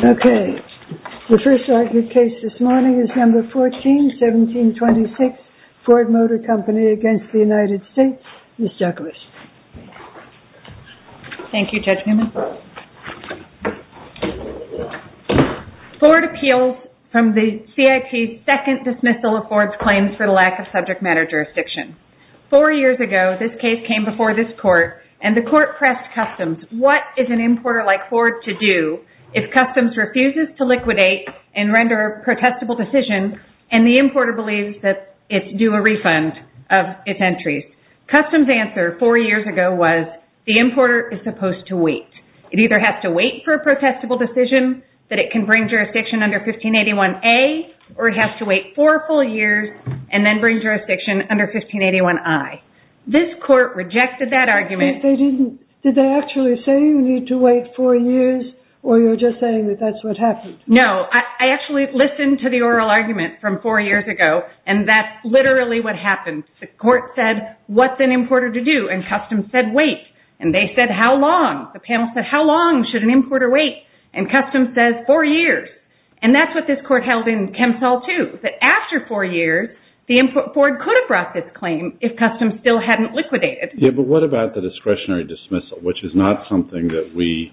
14-1726 Ford Appeals from the CIT's Second Dismissal of Ford's Claims for the Lack of Subject Matter Jurisdiction Four years ago, this case came before this court and the court pressed Customs, what is an importer like Ford to do if Customs refuses to liquidate and render a protestable decision and the importer believes that it's due a refund of its entries? Customs' answer four years ago was, the importer is supposed to wait. It either has to wait for a protestable decision that it can bring jurisdiction under 1581A or it has to wait four full years and then bring jurisdiction under 1581I. This court rejected that argument. Did they actually say you need to wait four years or you're just saying that that's what happened? No, I actually listened to the oral argument from four years ago and that's literally what happened. The court said, what's an importer to do? And Customs said, wait. And they said, how long? The panel said, how long should an importer wait? And Customs says, four years. And that's what this court held in ChemSol 2. After four years, Ford could have brought this claim if Customs still hadn't liquidated. Yeah, but what about the discretionary dismissal, which is not something that we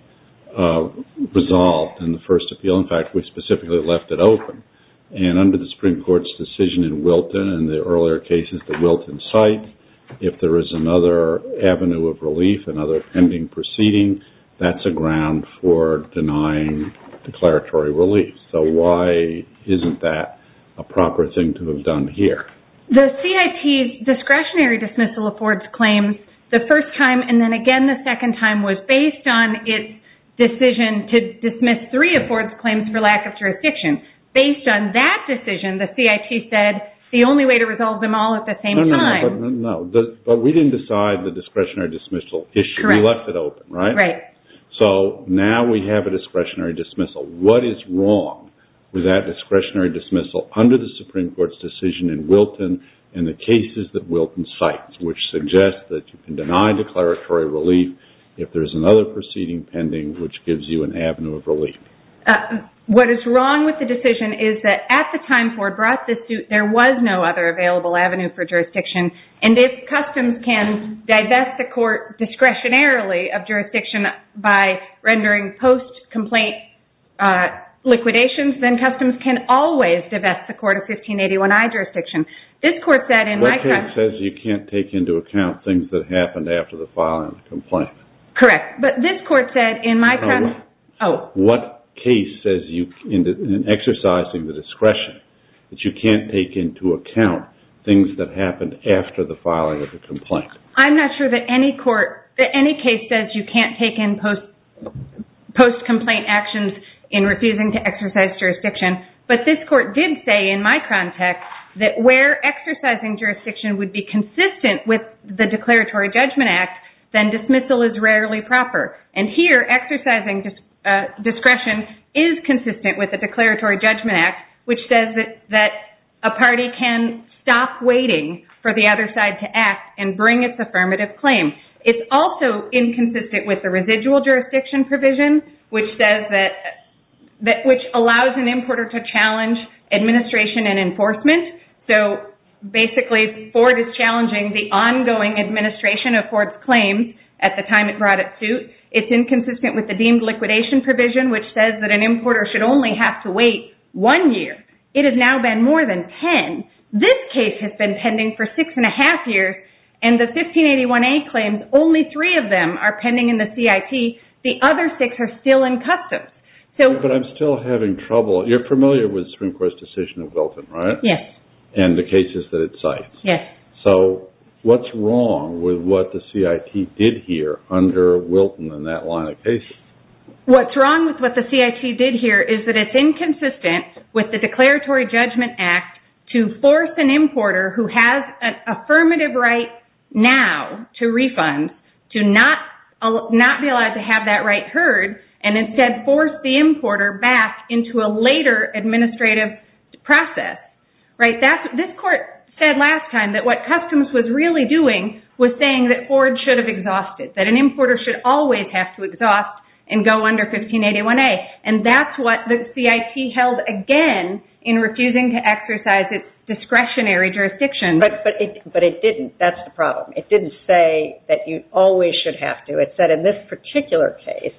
resolved in the first appeal. In fact, we specifically left it open. And under the Supreme Court's decision in Wilton and the earlier cases that Wilton cites, if there is another avenue of relief, another pending proceeding, that's a ground for denying declaratory relief. So why isn't that a proper thing to have done here? The CIT's discretionary dismissal of Ford's claims the first time and then again the second time was based on its decision to dismiss three of Ford's claims for lack of jurisdiction. Based on that decision, the CIT said the only way to resolve them all at the same time. No, but we didn't decide the discretionary dismissal issue. We left it open, right? Right. So now we have a discretionary dismissal. What is wrong with that discretionary dismissal under the Supreme Court's decision in Wilton and the cases that Wilton cites, which suggest that you can deny declaratory relief if there is another proceeding pending, which gives you an avenue of relief? What is wrong with the decision is that at the time Ford brought this suit, there was no other available avenue for jurisdiction. And if customs can divest the court discretionarily of jurisdiction by rendering post-complaint liquidations, then customs can always divest the court of 1581I jurisdiction. What case says you can't take into account things that happened after the filing of the complaint? Correct. But this court said in my context... What case says in exercising the discretion that you can't take into account things that happened after the filing of the complaint? I'm not sure that any case says you can't take in post-complaint actions in refusing to exercise jurisdiction. But this court did say in my context that where exercising jurisdiction would be consistent with the Declaratory Judgment Act, then dismissal is rarely proper. And here, exercising discretion is consistent with the Declaratory Judgment Act, which says that a party can stop waiting for the other side to act and bring its affirmative claim. It's also inconsistent with the residual jurisdiction provision, which allows an importer to challenge administration and enforcement. So basically, Ford is challenging the ongoing administration of Ford's claims at the time it brought its suit. It's inconsistent with the deemed liquidation provision, which says that an importer should only have to wait one year. It has now been more than ten. This case has been pending for six and a half years, and the 1581A claims, only three of them are pending in the CIT. The other six are still in customs. But I'm still having trouble. You're familiar with Supreme Court's decision of Wilton, right? Yes. And the cases that it cites. Yes. So what's wrong with what the CIT did here under Wilton in that line of cases? What's wrong with what the CIT did here is that it's inconsistent with the Declaratory Judgment Act to force an importer who has an affirmative right now to refund, to not be allowed to have that right heard, and instead force the importer back into a later administrative process. This court said last time that what customs was really doing was saying that Ford should have exhausted, that an importer should always have to exhaust and go under 1581A. And that's what the CIT held again in refusing to exercise its discretionary jurisdiction. But it didn't. That's the problem. It didn't say that you always should have to. It said in this particular case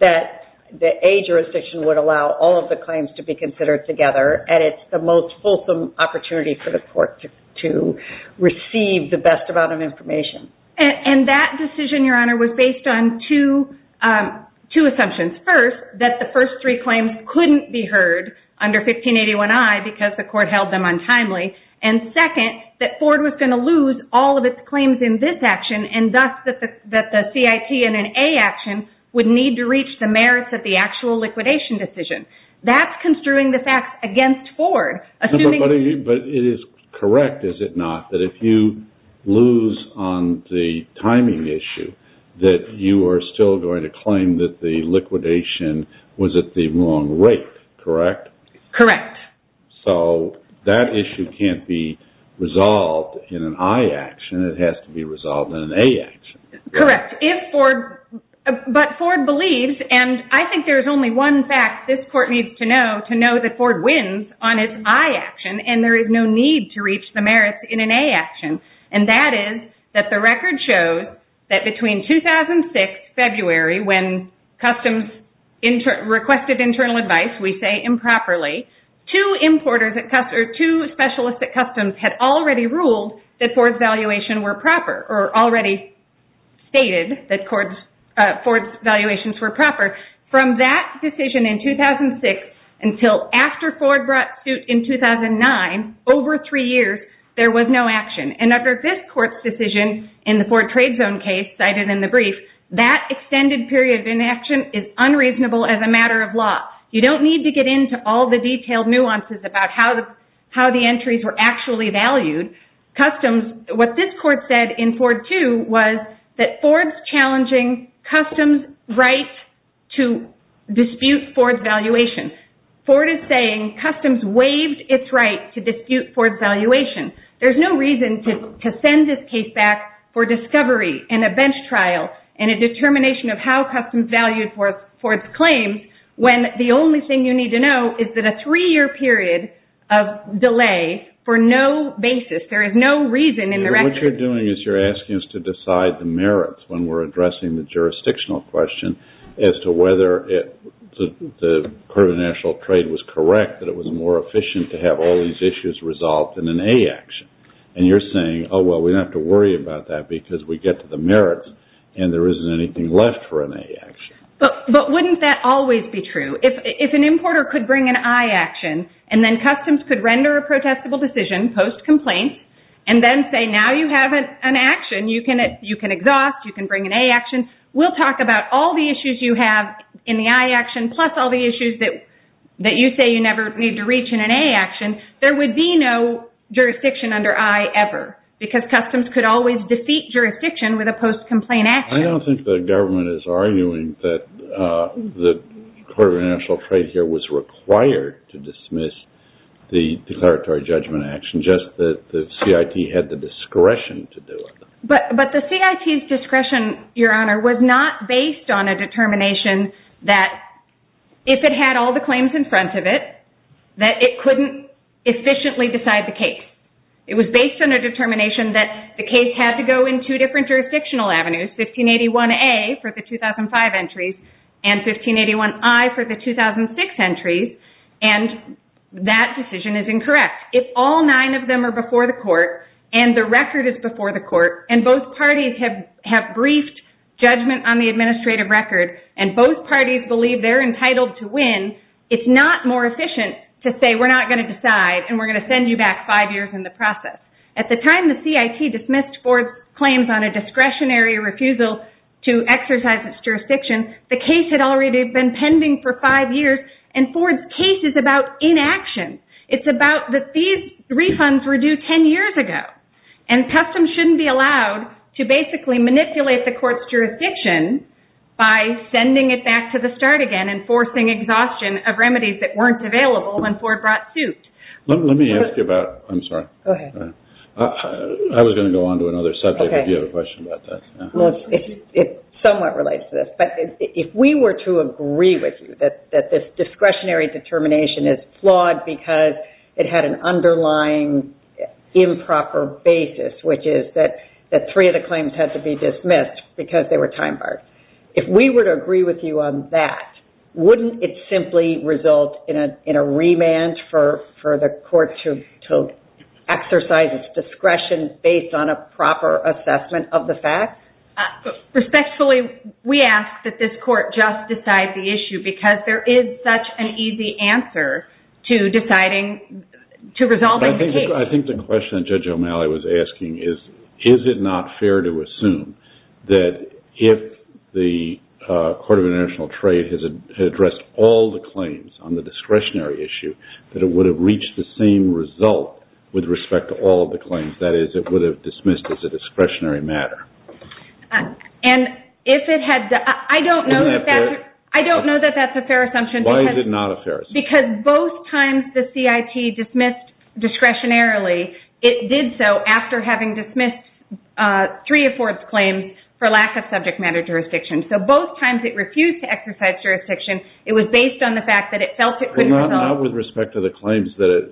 that the A jurisdiction would allow all of the claims to be considered together, and it's the most fulsome opportunity for the court to receive the best amount of information. And that decision, Your Honor, was based on two assumptions. First, that the first three claims couldn't be heard under 1581I because the court held them untimely. And second, that Ford was going to lose all of its claims in this action, and thus that the CIT in an A action would need to reach the merits of the actual liquidation decision. That's construing the facts against Ford. But it is correct, is it not, that if you lose on the timing issue, that you are still going to claim that the liquidation was at the wrong rate, correct? Correct. So that issue can't be resolved in an I action. It has to be resolved in an A action. Correct. But Ford believes, and I think there's only one fact this court needs to know, to know that Ford wins on its I action, and there is no need to reach the merits in an A action. And that is that the record shows that between 2006, February, when customs requested internal advice, we say improperly, two specialists at customs had already ruled that Ford's valuation were proper, or already stated that Ford's valuations were proper. From that decision in 2006 until after Ford brought suit in 2009, over three years, there was no action. And under this court's decision, in the Ford trade zone case cited in the brief, that extended period of inaction is unreasonable as a matter of law. You don't need to get into all the detailed nuances about how the entries were actually valued. What this court said in Ford 2 was that Ford's challenging customs' right to dispute Ford's valuation. Ford is saying customs waived its right to dispute Ford's valuation. There's no reason to send this case back for discovery and a bench trial and a determination of how customs valued Ford's claims, when the only thing you need to know is that a three-year period of delay for no basis, there is no reason in the record. What you're doing is you're asking us to decide the merits when we're addressing the jurisdictional question as to whether the curve of the national trade was correct, that it was more efficient to have all these issues resolved in an A action. And you're saying, oh, well, we don't have to worry about that because we get to the merits and there isn't anything left for an A action. But wouldn't that always be true? If an importer could bring an I action and then customs could render a protestable decision post-complaint and then say, now you have an action. You can exhaust. You can bring an A action. We'll talk about all the issues you have in the I action, plus all the issues that you say you never need to reach in an A action. There would be no jurisdiction under I ever, because customs could always defeat jurisdiction with a post-complaint action. I don't think the government is arguing that the curve of the national trade here was required to dismiss the declaratory judgment action, just that the CIT had the discretion to do it. But the CIT's discretion, Your Honor, was not based on a determination that if it had all the claims in front of it, that it couldn't efficiently decide the case. It was based on a determination that the case had to go in two different jurisdictional avenues, 1581A for the 2005 entries and 1581I for the 2006 entries, and that decision is incorrect. If all nine of them are before the court and the record is before the court and both parties have briefed judgment on the administrative record and both parties believe they're entitled to win, it's not more efficient to say we're not going to decide and we're going to send you back five years in the process. At the time the CIT dismissed Ford's claims on a discretionary refusal to exercise its jurisdiction, the case had already been pending for five years and Ford's case is about inaction. It's about that these refunds were due ten years ago and customs shouldn't be allowed to basically manipulate the court's jurisdiction by sending it back to the start again and forcing exhaustion of remedies that weren't available when Ford brought suit. Let me ask you about – I'm sorry. Go ahead. I was going to go on to another subject if you have a question about that. It somewhat relates to this, but if we were to agree with you that this discretionary determination is flawed because it had an underlying improper basis, which is that three of the claims had to be dismissed because they were time barred, if we were to agree with you on that, wouldn't it simply result in a remand for the court to exercise its discretion based on a proper assessment of the facts? Respectfully, we ask that this court just decide the issue because there is such an easy answer to resolving the case. I think the question Judge O'Malley was asking is, is it not fair to assume that if the Court of International Trade had addressed all the claims on the discretionary issue, that it would have reached the same result with respect to all of the claims, that is, it would have dismissed as a discretionary matter? I don't know that that's a fair assumption. Why is it not a fair assumption? Because both times the CIT dismissed discretionarily, it did so after having dismissed three of Ford's claims for lack of subject matter jurisdiction. So both times it refused to exercise jurisdiction. It was based on the fact that it felt it wouldn't resolve. Well, not with respect to the claims that it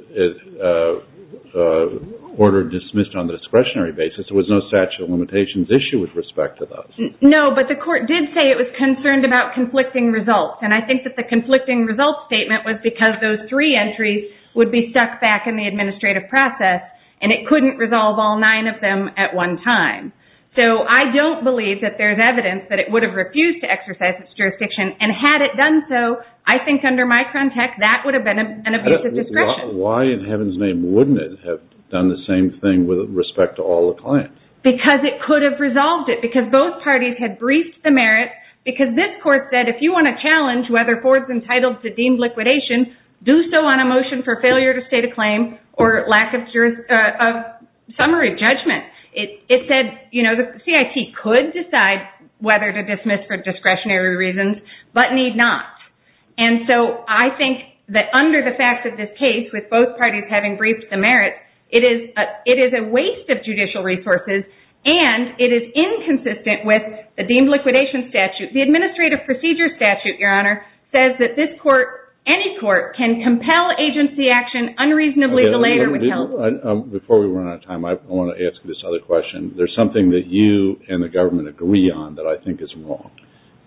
ordered dismissed on the discretionary basis. There was no statute of limitations issue with respect to those. No, but the court did say it was concerned about conflicting results, and I think that the conflicting results statement was because those three entries would be stuck back in the administrative process, and it couldn't resolve all nine of them at one time. So I don't believe that there's evidence that it would have refused to exercise its jurisdiction, and had it done so, I think under Micron Tech, that would have been an abusive discretion. Why in heaven's name wouldn't it have done the same thing with respect to all the claims? Because it could have resolved it, because both parties had briefed the merits, because this court said if you want to challenge whether Ford's entitled to deemed liquidation, do so on a motion for failure to state a claim or lack of summary judgment. It said, you know, the CIT could decide whether to dismiss for discretionary reasons, but need not. And so I think that under the fact of this case, with both parties having briefed the merits, it is a waste of judicial resources, and it is inconsistent with the deemed liquidation statute. The administrative procedure statute, Your Honor, says that this court, any court, can compel agency action unreasonably delayed or withheld. Before we run out of time, I want to ask this other question. There's something that you and the government agree on that I think is wrong,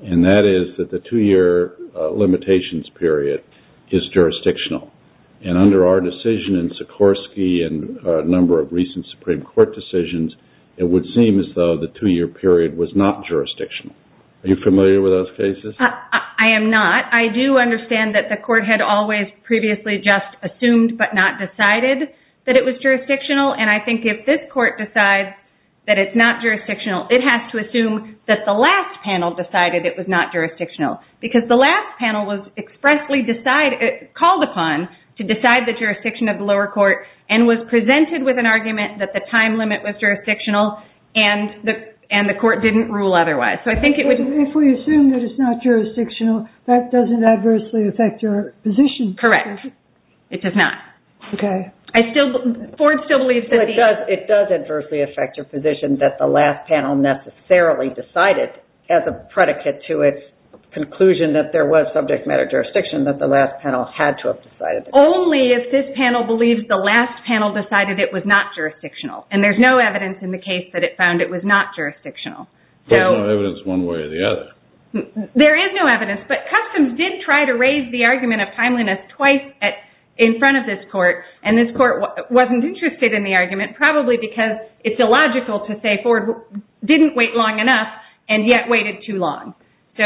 and that is that the two-year limitations period is jurisdictional. And under our decision in Sikorsky and a number of recent Supreme Court decisions, it would seem as though the two-year period was not jurisdictional. Are you familiar with those cases? I am not. I do understand that the court had always previously just assumed but not decided that it was jurisdictional, and I think if this court decides that it's not jurisdictional, it has to assume that the last panel decided it was not jurisdictional because the last panel was expressly called upon to decide the jurisdiction of the lower court and was presented with an argument that the time limit was jurisdictional and the court didn't rule otherwise. If we assume that it's not jurisdictional, that doesn't adversely affect your position. Correct. It does not. Okay. Ford still believes that the— It does adversely affect your position that the last panel necessarily decided, as a predicate to its conclusion that there was subject matter jurisdiction, that the last panel had to have decided. Only if this panel believes the last panel decided it was not jurisdictional, and there's no evidence in the case that it found it was not jurisdictional. There's no evidence one way or the other. There is no evidence, but Customs did try to raise the argument of timeliness twice in front of this court, and this court wasn't interested in the argument, probably because it's illogical to say Ford didn't wait long enough and yet waited too long. So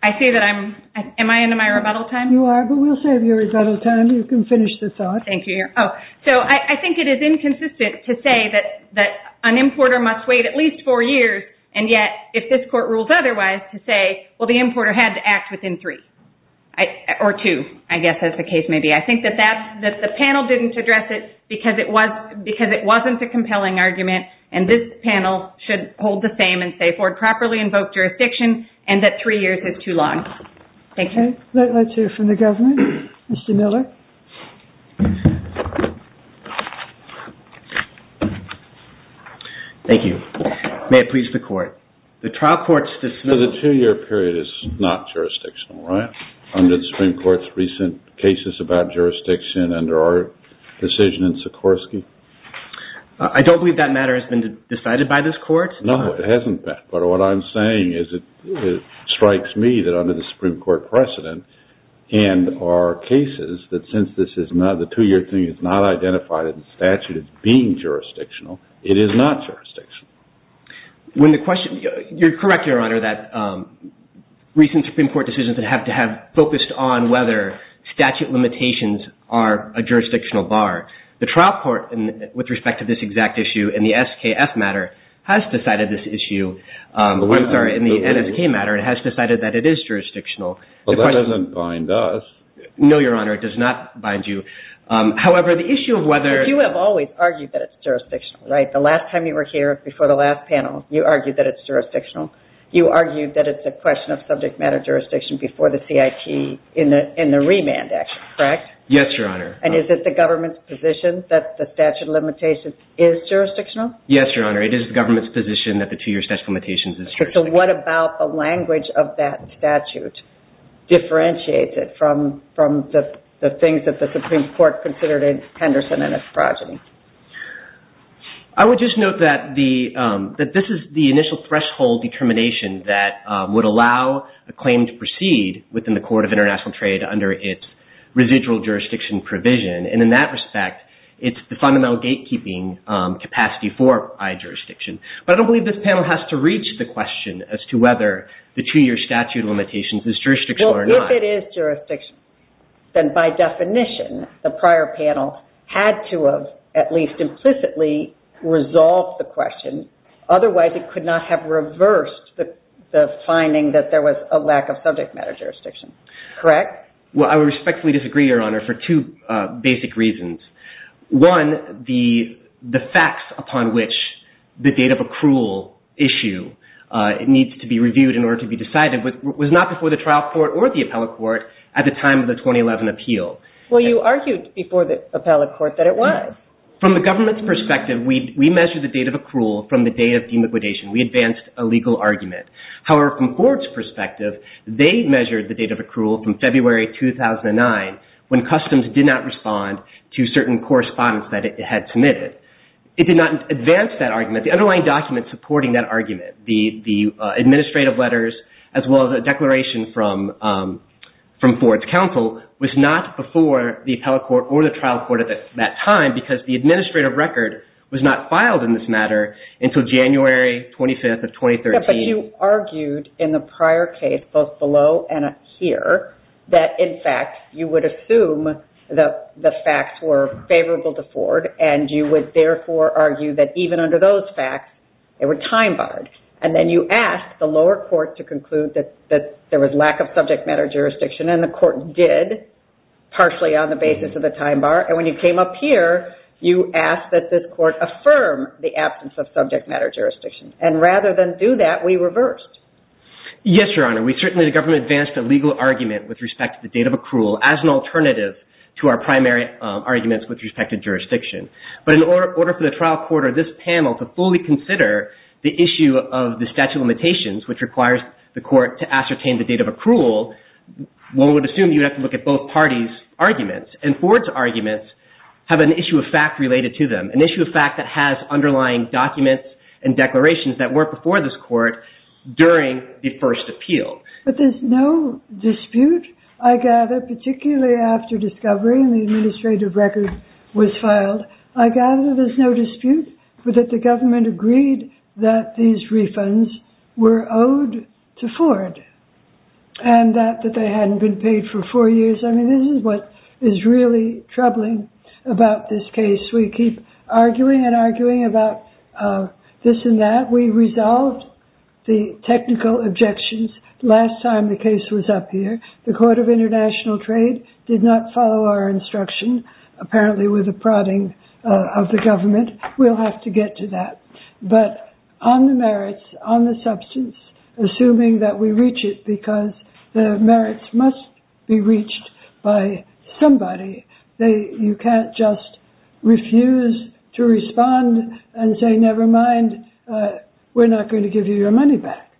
I say that I'm—am I into my rebuttal time? You are, but we'll save your rebuttal time. You can finish the thought. Thank you. So I think it is inconsistent to say that an importer must wait at least four years, and yet if this court rules otherwise to say, well, the importer had to act within three, or two, I guess is the case maybe. I think that the panel didn't address it because it wasn't a compelling argument, and this panel should hold the same and say Ford properly invoked jurisdiction and that three years is too long. Thank you. Let's hear from the government. Mr. Miller. Thank you. May it please the Court. The trial court's decision— So the two-year period is not jurisdictional, right? Under the Supreme Court's recent cases about jurisdiction under our decision in Sikorsky? I don't believe that matter has been decided by this Court. No, it hasn't been, but what I'm saying is it strikes me that under the Supreme Court precedent and our cases that since this is not—the two-year thing is not identified in statute as being jurisdictional, it is not jurisdictional. You're correct, Your Honor, that recent Supreme Court decisions have focused on whether statute limitations are a jurisdictional bar. The trial court, with respect to this exact issue in the SKF matter, has decided this issue— I'm sorry, in the NSK matter, it has decided that it is jurisdictional. Well, that doesn't bind us. No, Your Honor, it does not bind you. However, the issue of whether— But you have always argued that it's jurisdictional, right? The last time you were here, before the last panel, you argued that it's jurisdictional. You argued that it's a question of subject matter jurisdiction before the CIT in the Remand Act, correct? Yes, Your Honor. And is it the government's position that the statute of limitations is jurisdictional? Yes, Your Honor, it is the government's position that the two-year statute of limitations is jurisdictional. So what about the language of that statute that differentiates it from the things that the Supreme Court considered in Henderson and Esprogin? I would just note that this is the initial threshold determination that would allow a claim to proceed within the Court of International Trade under its residual jurisdiction provision. And in that respect, it's the fundamental gatekeeping capacity for i-jurisdiction. But I don't believe this panel has to reach the question as to whether the two-year statute of limitations is jurisdictional or not. Well, if it is jurisdictional, then by definition, the prior panel had to have at least implicitly resolved the question. Otherwise, it could not have reversed the finding that there was a lack of subject matter jurisdiction, correct? Well, I would respectfully disagree, Your Honor, for two basic reasons. One, the facts upon which the date of accrual issue needs to be reviewed in order to be decided was not before the trial court or the appellate court at the time of the 2011 appeal. Well, you argued before the appellate court that it was. From the government's perspective, we measured the date of accrual from the date of demolition. We advanced a legal argument. However, from the court's perspective, they measured the date of accrual from February 2009 when customs did not respond to certain correspondence that it had submitted. It did not advance that argument. The underlying document supporting that argument, the administrative letters as well as a declaration from Ford's counsel, was not before the appellate court or the trial court at that time because the administrative record was not filed in this matter until January 25th of 2013. But you argued in the prior case, both below and here, that in fact you would assume that the facts were favorable to Ford and you would therefore argue that even under those facts, they were time barred. And then you asked the lower court to conclude that there was lack of subject matter jurisdiction and the court did, partially on the basis of the time bar. And when you came up here, you asked that this court affirm the absence of subject matter jurisdiction. And rather than do that, we reversed. Yes, Your Honor. We certainly, the government advanced a legal argument with respect to the date of accrual as an alternative to our primary arguments with respect to jurisdiction. But in order for the trial court or this panel to fully consider the issue of the statute of limitations which requires the court to ascertain the date of accrual, one would assume you would have to look at both parties' arguments. And Ford's arguments have an issue of fact related to them, an issue of fact that has underlying documents and declarations that weren't before this court during the first appeal. But there's no dispute, I gather, particularly after discovery and the administrative record was filed, I gather there's no dispute that the government agreed that these refunds were owed to Ford and that they hadn't been paid for four years. I mean, this is what is really troubling about this case. We keep arguing and arguing about this and that. We resolved the technical objections last time the case was up here. The Court of International Trade did not follow our instruction, apparently with the prodding of the government. We'll have to get to that. But on the merits, on the substance, assuming that we reach it because the merits must be reached by somebody, you can't just refuse to respond and say, never mind, we're not going to give you your money back.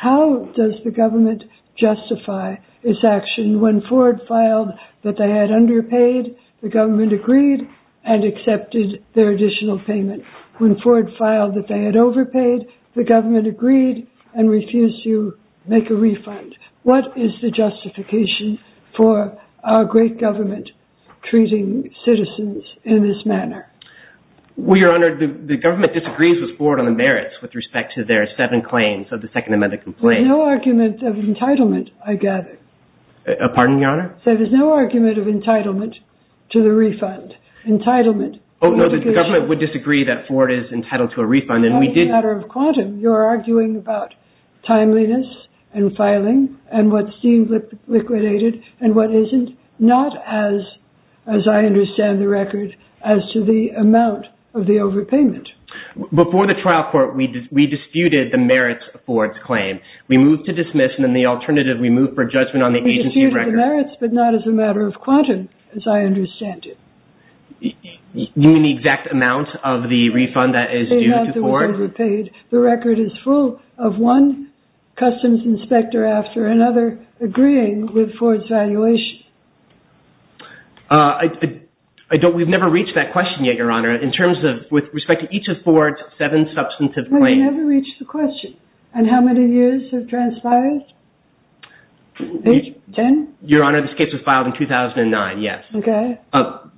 How does the government justify its action when Ford filed that they had underpaid, the government agreed and accepted their additional payment? When Ford filed that they had overpaid, the government agreed and refused to make a refund. What is the justification for our great government treating citizens in this manner? Well, Your Honor, the government disagrees with Ford on the merits with respect to their seven claims of the Second Amendment complaint. There's no argument of entitlement, I gather. Pardon, Your Honor? There is no argument of entitlement to the refund. Entitlement. Oh, no, the government would disagree that Ford is entitled to a refund. That is a matter of quantum. You're arguing about timeliness and filing and what seems liquidated and what isn't, not as I understand the record as to the amount of the overpayment. Before the trial court, we disputed the merits of Ford's claim. We moved to dismiss, and then the alternative, we moved for judgment on the agency of record. We disputed the merits, but not as a matter of quantum as I understand it. You mean the exact amount of the refund that is due to Ford? They have the overpaid. The record is full of one customs inspector after another agreeing with Ford's valuation. We've never reached that question yet, Your Honor, in terms of, with respect to each of Ford's seven substantive claims. We've never reached the question. And how many years have transpired? Your Honor, this case was filed in 2009, yes. Okay.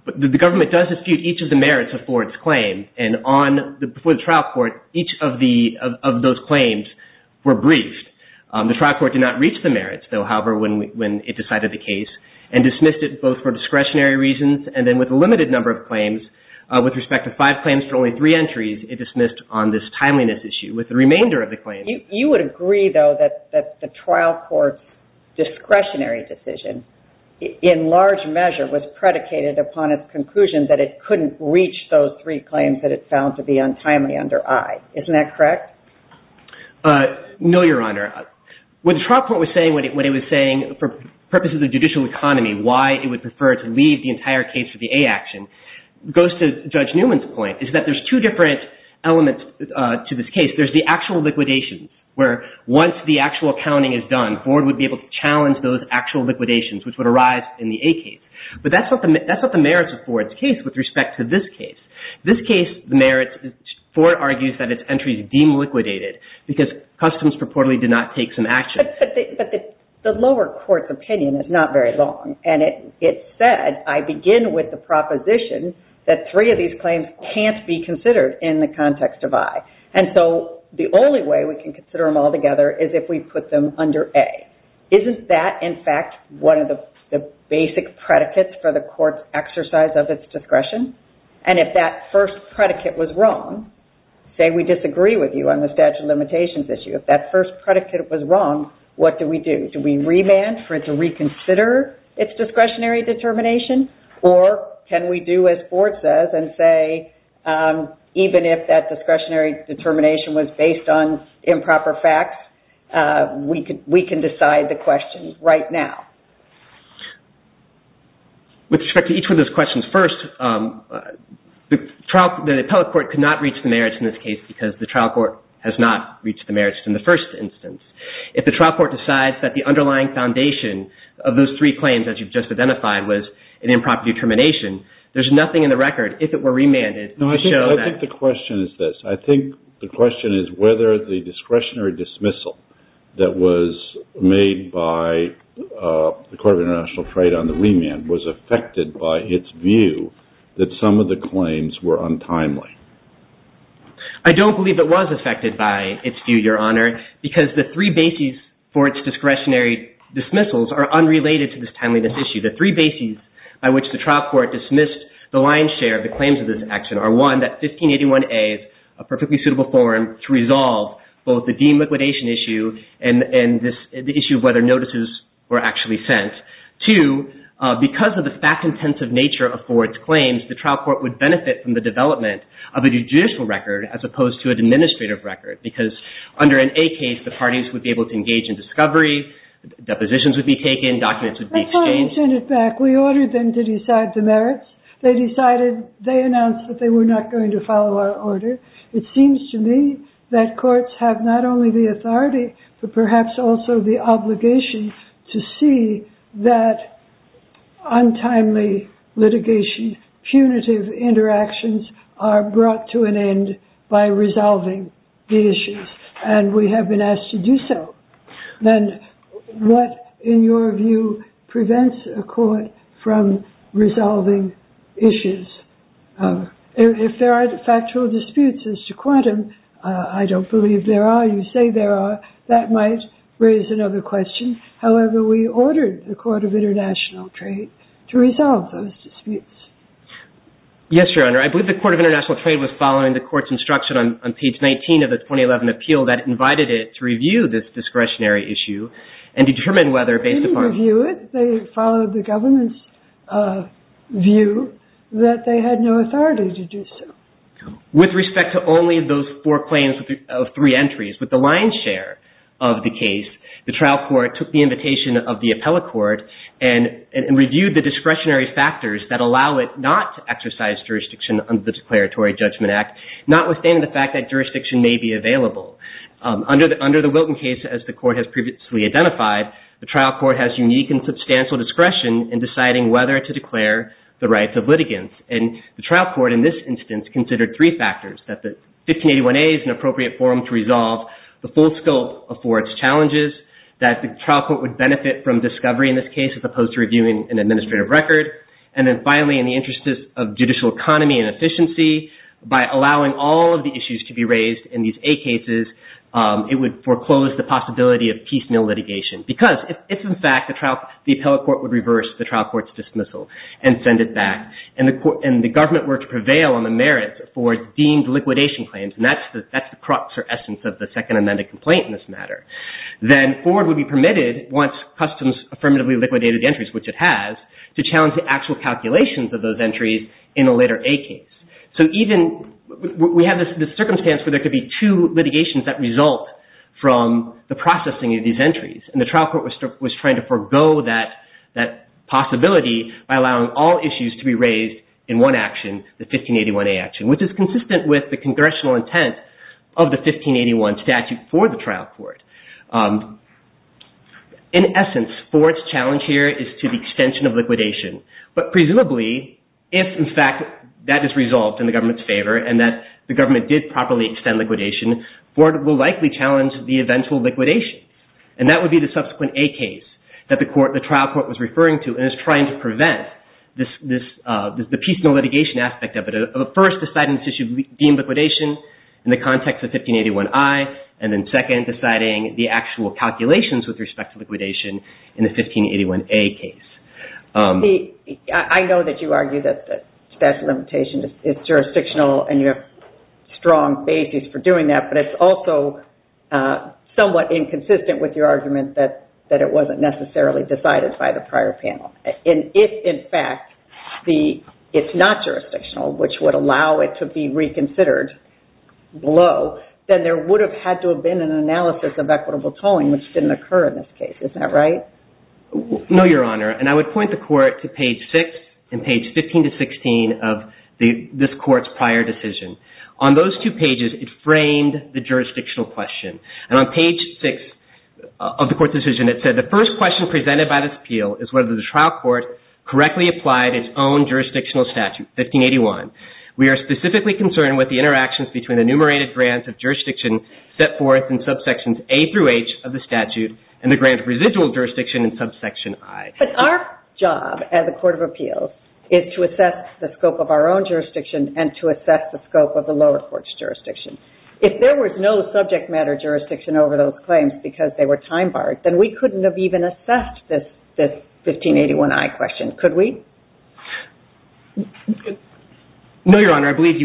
The government does dispute each of the merits of Ford's claim. And before the trial court, each of those claims were briefed. The trial court did not reach the merits, though, however, when it decided the case and dismissed it both for discretionary reasons and then with a limited number of claims. With respect to five claims for only three entries, it dismissed on this timeliness issue. With the remainder of the claims… You would agree, though, that the trial court's discretionary decision, in large measure, was predicated upon its conclusion that it couldn't reach those three claims that it found to be untimely under I. Isn't that correct? No, Your Honor. What the trial court was saying when it was saying, for purposes of judicial economy, why it would prefer to leave the entire case for the A action, goes to Judge Newman's point, is that there's two different elements to this case. There's the actual liquidation, where once the actual accounting is done, Ford would be able to challenge those actual liquidations, which would arise in the A case. But that's not the merits of Ford's case with respect to this case. This case, the merits, Ford argues that its entries deem liquidated because customs purportedly did not take some action. But the lower court's opinion is not very long. And it said, I begin with the proposition that three of these claims can't be considered in the context of I. And so the only way we can consider them all together is if we put them under A. Isn't that, in fact, one of the basic predicates for the court's exercise of its discretion? And if that first predicate was wrong, say we disagree with you on the statute of limitations issue, if that first predicate was wrong, what do we do? Do we remand for it to reconsider its discretionary determination? Or can we do as Ford says and say, even if that discretionary determination was based on improper facts, we can decide the questions right now? With respect to each of those questions, first, the appellate court could not reach the merits in this case because the trial court has not reached the merits in the first instance. If the trial court decides that the underlying foundation of those three claims, as you've just identified, was an improper determination, there's nothing in the record, if it were remanded, to show that. No, I think the question is this. I think the question is whether the discretionary dismissal that was made by the Court of International Trade on the remand was affected by its view that some of the claims were untimely. I don't believe it was affected by its view, Your Honor, because the three bases for its discretionary dismissals are unrelated to this timelyness issue. The three bases by which the trial court dismissed the lion's share of the claims of this action are, one, that 1581A is a perfectly suitable forum to resolve both the deem liquidation issue and the issue of whether notices were actually sent. Two, because of the fact-intensive nature of Ford's claims, the trial court would benefit from the development of a judicial record as opposed to an administrative record because under an A case, the parties would be able to engage in discovery, depositions would be taken, documents would be exchanged. My client sent it back. We ordered them to decide the merits. They announced that they were not going to follow our order. It seems to me that courts have not only the authority but perhaps also the obligation to see that untimely litigation, punitive interactions are brought to an end by resolving the issues, and we have been asked to do so. Then what, in your view, prevents a court from resolving issues? If there are factual disputes as to quantum, I don't believe there are. You say there are. That might raise another question. However, we ordered the Court of International Trade to resolve those disputes. Yes, Your Honor. I believe the Court of International Trade was following the court's instruction on page 19 of its 2011 appeal that it invited it to review this discretionary issue and determine whether, based upon- They didn't review it. They followed the government's view that they had no authority to do so. With respect to only those four claims of three entries, with the lion's share of the case, the trial court took the invitation of the appellate court and reviewed the discretionary factors that allow it not to exercise jurisdiction under the Declaratory Judgment Act, notwithstanding the fact that jurisdiction may be available. Under the Wilton case, as the court has previously identified, the trial court has unique and substantial discretion in deciding whether to declare the rights of litigants, and the trial court in this instance considered three factors, that the 1581A is an appropriate forum to resolve the full scope of Ford's challenges, that the trial court would benefit from discovery in this case as opposed to reviewing an administrative record, and then finally, in the interest of judicial economy and efficiency, by allowing all of the issues to be raised in these A cases, it would foreclose the possibility of piecemeal litigation, because if in fact the appellate court would reverse the trial court's dismissal and send it back, and the government were to prevail on the merit for deemed liquidation claims, and that's the crux or essence of the second amended complaint in this matter, then Ford would be permitted, once customs affirmatively liquidated the entries, which it has, to challenge the actual calculations of those entries in a later A case. So even, we have this circumstance where there could be two litigations that result from the processing of these entries, and the trial court was trying to forego that possibility by allowing all issues to be raised in one action, the 1581A action, which is consistent with the congressional intent of the 1581 statute for the trial court. In essence, Ford's challenge here is to the extension of liquidation, but presumably, if in fact that is resolved in the government's favor, and that the government did properly extend liquidation, Ford will likely challenge the eventual liquidation, and that would be the subsequent A case that the trial court was referring to, and is trying to prevent the piecemeal litigation aspect of it. First, deciding this issue of deemed liquidation in the context of 1581I, and then second, deciding the actual calculations with respect to liquidation in the 1581A case. I know that you argue that statute of limitations is jurisdictional, and you have strong basis for doing that, but it's also somewhat inconsistent with your argument that it wasn't necessarily decided by the prior panel. If, in fact, it's not jurisdictional, which would allow it to be reconsidered below, then there would have had to have been an analysis of equitable tolling, which didn't occur in this case. Isn't that right? No, Your Honor, and I would point the court to page 6 and page 15 to 16 of this court's prior decision. On those two pages, it framed the jurisdictional question, and on page 6 of the court's decision, it said, The first question presented by this appeal is whether the trial court correctly applied its own jurisdictional statute, 1581. We are specifically concerned with the interactions between the enumerated grants of jurisdiction set forth in subsections A through H of the statute and the grant of residual jurisdiction in subsection I. But our job as a court of appeals is to assess the scope of our own jurisdiction and to assess the scope of the lower court's jurisdiction. If there was no subject matter jurisdiction over those claims because they were time-barred, then we couldn't have even assessed this 1581I question, could we? No, Your Honor, I believe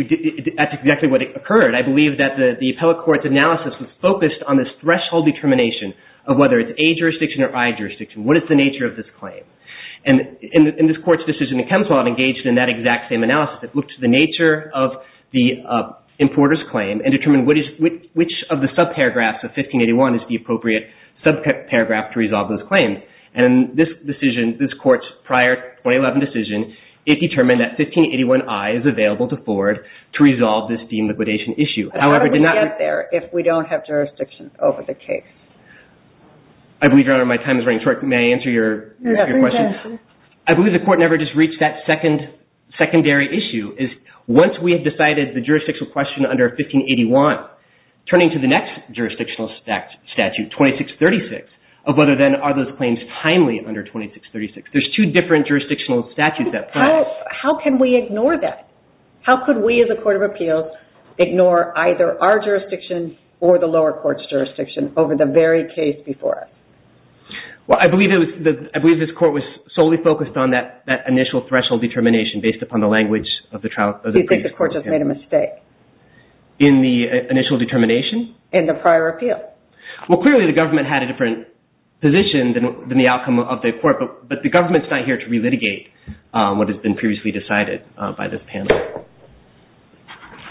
that's exactly what occurred. I believe that the appellate court's analysis was focused on this threshold determination of whether it's A jurisdiction or I jurisdiction, what is the nature of this claim. And in this court's decision, the Kempswild engaged in that exact same analysis. It looked at the nature of the importer's claim and determined which of the subparagraphs of 1581 is the appropriate subparagraph to resolve those claims. And in this decision, this court's prior 2011 decision, it determined that 1581I is available to forward to resolve this deem liquidation issue. But how do we get there if we don't have jurisdiction over the case? I believe, Your Honor, my time is running short. May I answer your question? I believe the court never just reached that secondary issue. Once we have decided the jurisdictional question under 1581, turning to the next jurisdictional statute, 2636, of whether then are those claims timely under 2636. There's two different jurisdictional statutes at play. How can we ignore that? How could we, as a court of appeals, ignore either our jurisdiction or the lower court's jurisdiction over the very case before us? Well, I believe this court was solely focused on that initial threshold determination based upon the language of the previous court. Do you think the court just made a mistake? In the initial determination? In the prior appeal. Well, clearly the government had a different position than the outcome of the court, but the government's not here to relitigate what has been previously decided by this panel.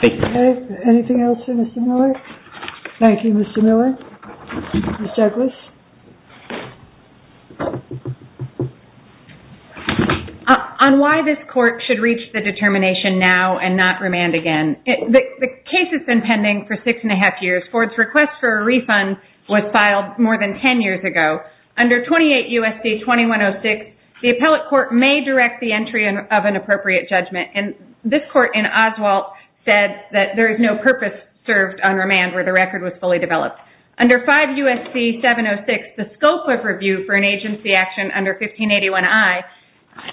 Thank you. Anything else for Mr. Miller? Thank you, Mr. Miller. Ms. Douglas? On why this court should reach the determination now and not remand again, the case has been pending for six and a half years. Ford's request for a refund was filed more than ten years ago. Under 28 U.S.C. 2106, the appellate court may direct the entry of an appropriate judgment, and this court in Oswalt said that there is no purpose served on remand where the record was fully developed. Under 5 U.S.C. 706, the scope of review for an agency action under 1581I,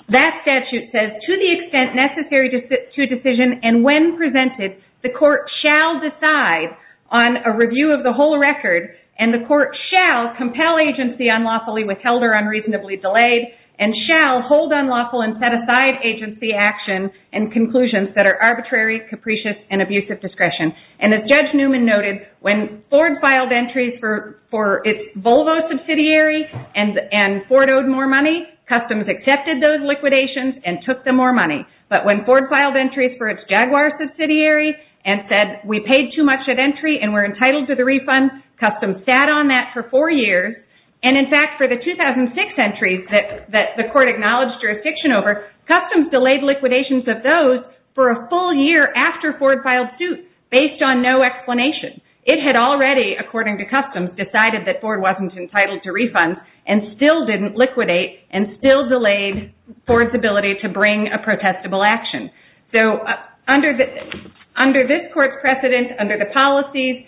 that statute says, to the extent necessary to a decision and when presented, the court shall decide on a review of the whole record, and the court shall compel agency unlawfully, withheld or unreasonably delayed, and shall hold unlawful and set aside agency action and conclusions that are arbitrary, capricious, and abusive discretion. And as Judge Newman noted, when Ford filed entries for its Volvo subsidiary and Ford owed more money, customs accepted those liquidations and took the more money. But when Ford filed entries for its Jaguar subsidiary and said, we paid too much at entry and we're entitled to the refund, customs sat on that for four years. And in fact, for the 2006 entries that the court acknowledged jurisdiction over, customs delayed liquidations of those for a full year after Ford filed suit, based on no explanation. It had already, according to customs, decided that Ford wasn't entitled to refunds, and still didn't liquidate, and still delayed Ford's ability to bring a protestable action. So under this court's precedent, under the policies,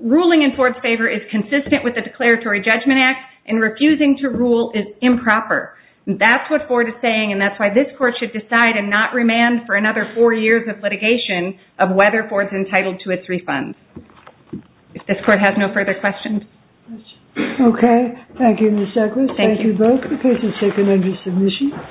ruling in Ford's favor is consistent with the Declaratory Judgment Act, and refusing to rule is improper. That's what Ford is saying, and that's why this court should decide and not remand for another four years of litigation of whether Ford's entitled to its refunds. If this court has no further questions. Okay. Thank you, Ms. Douglas. Thank you both. The case is taken under submission.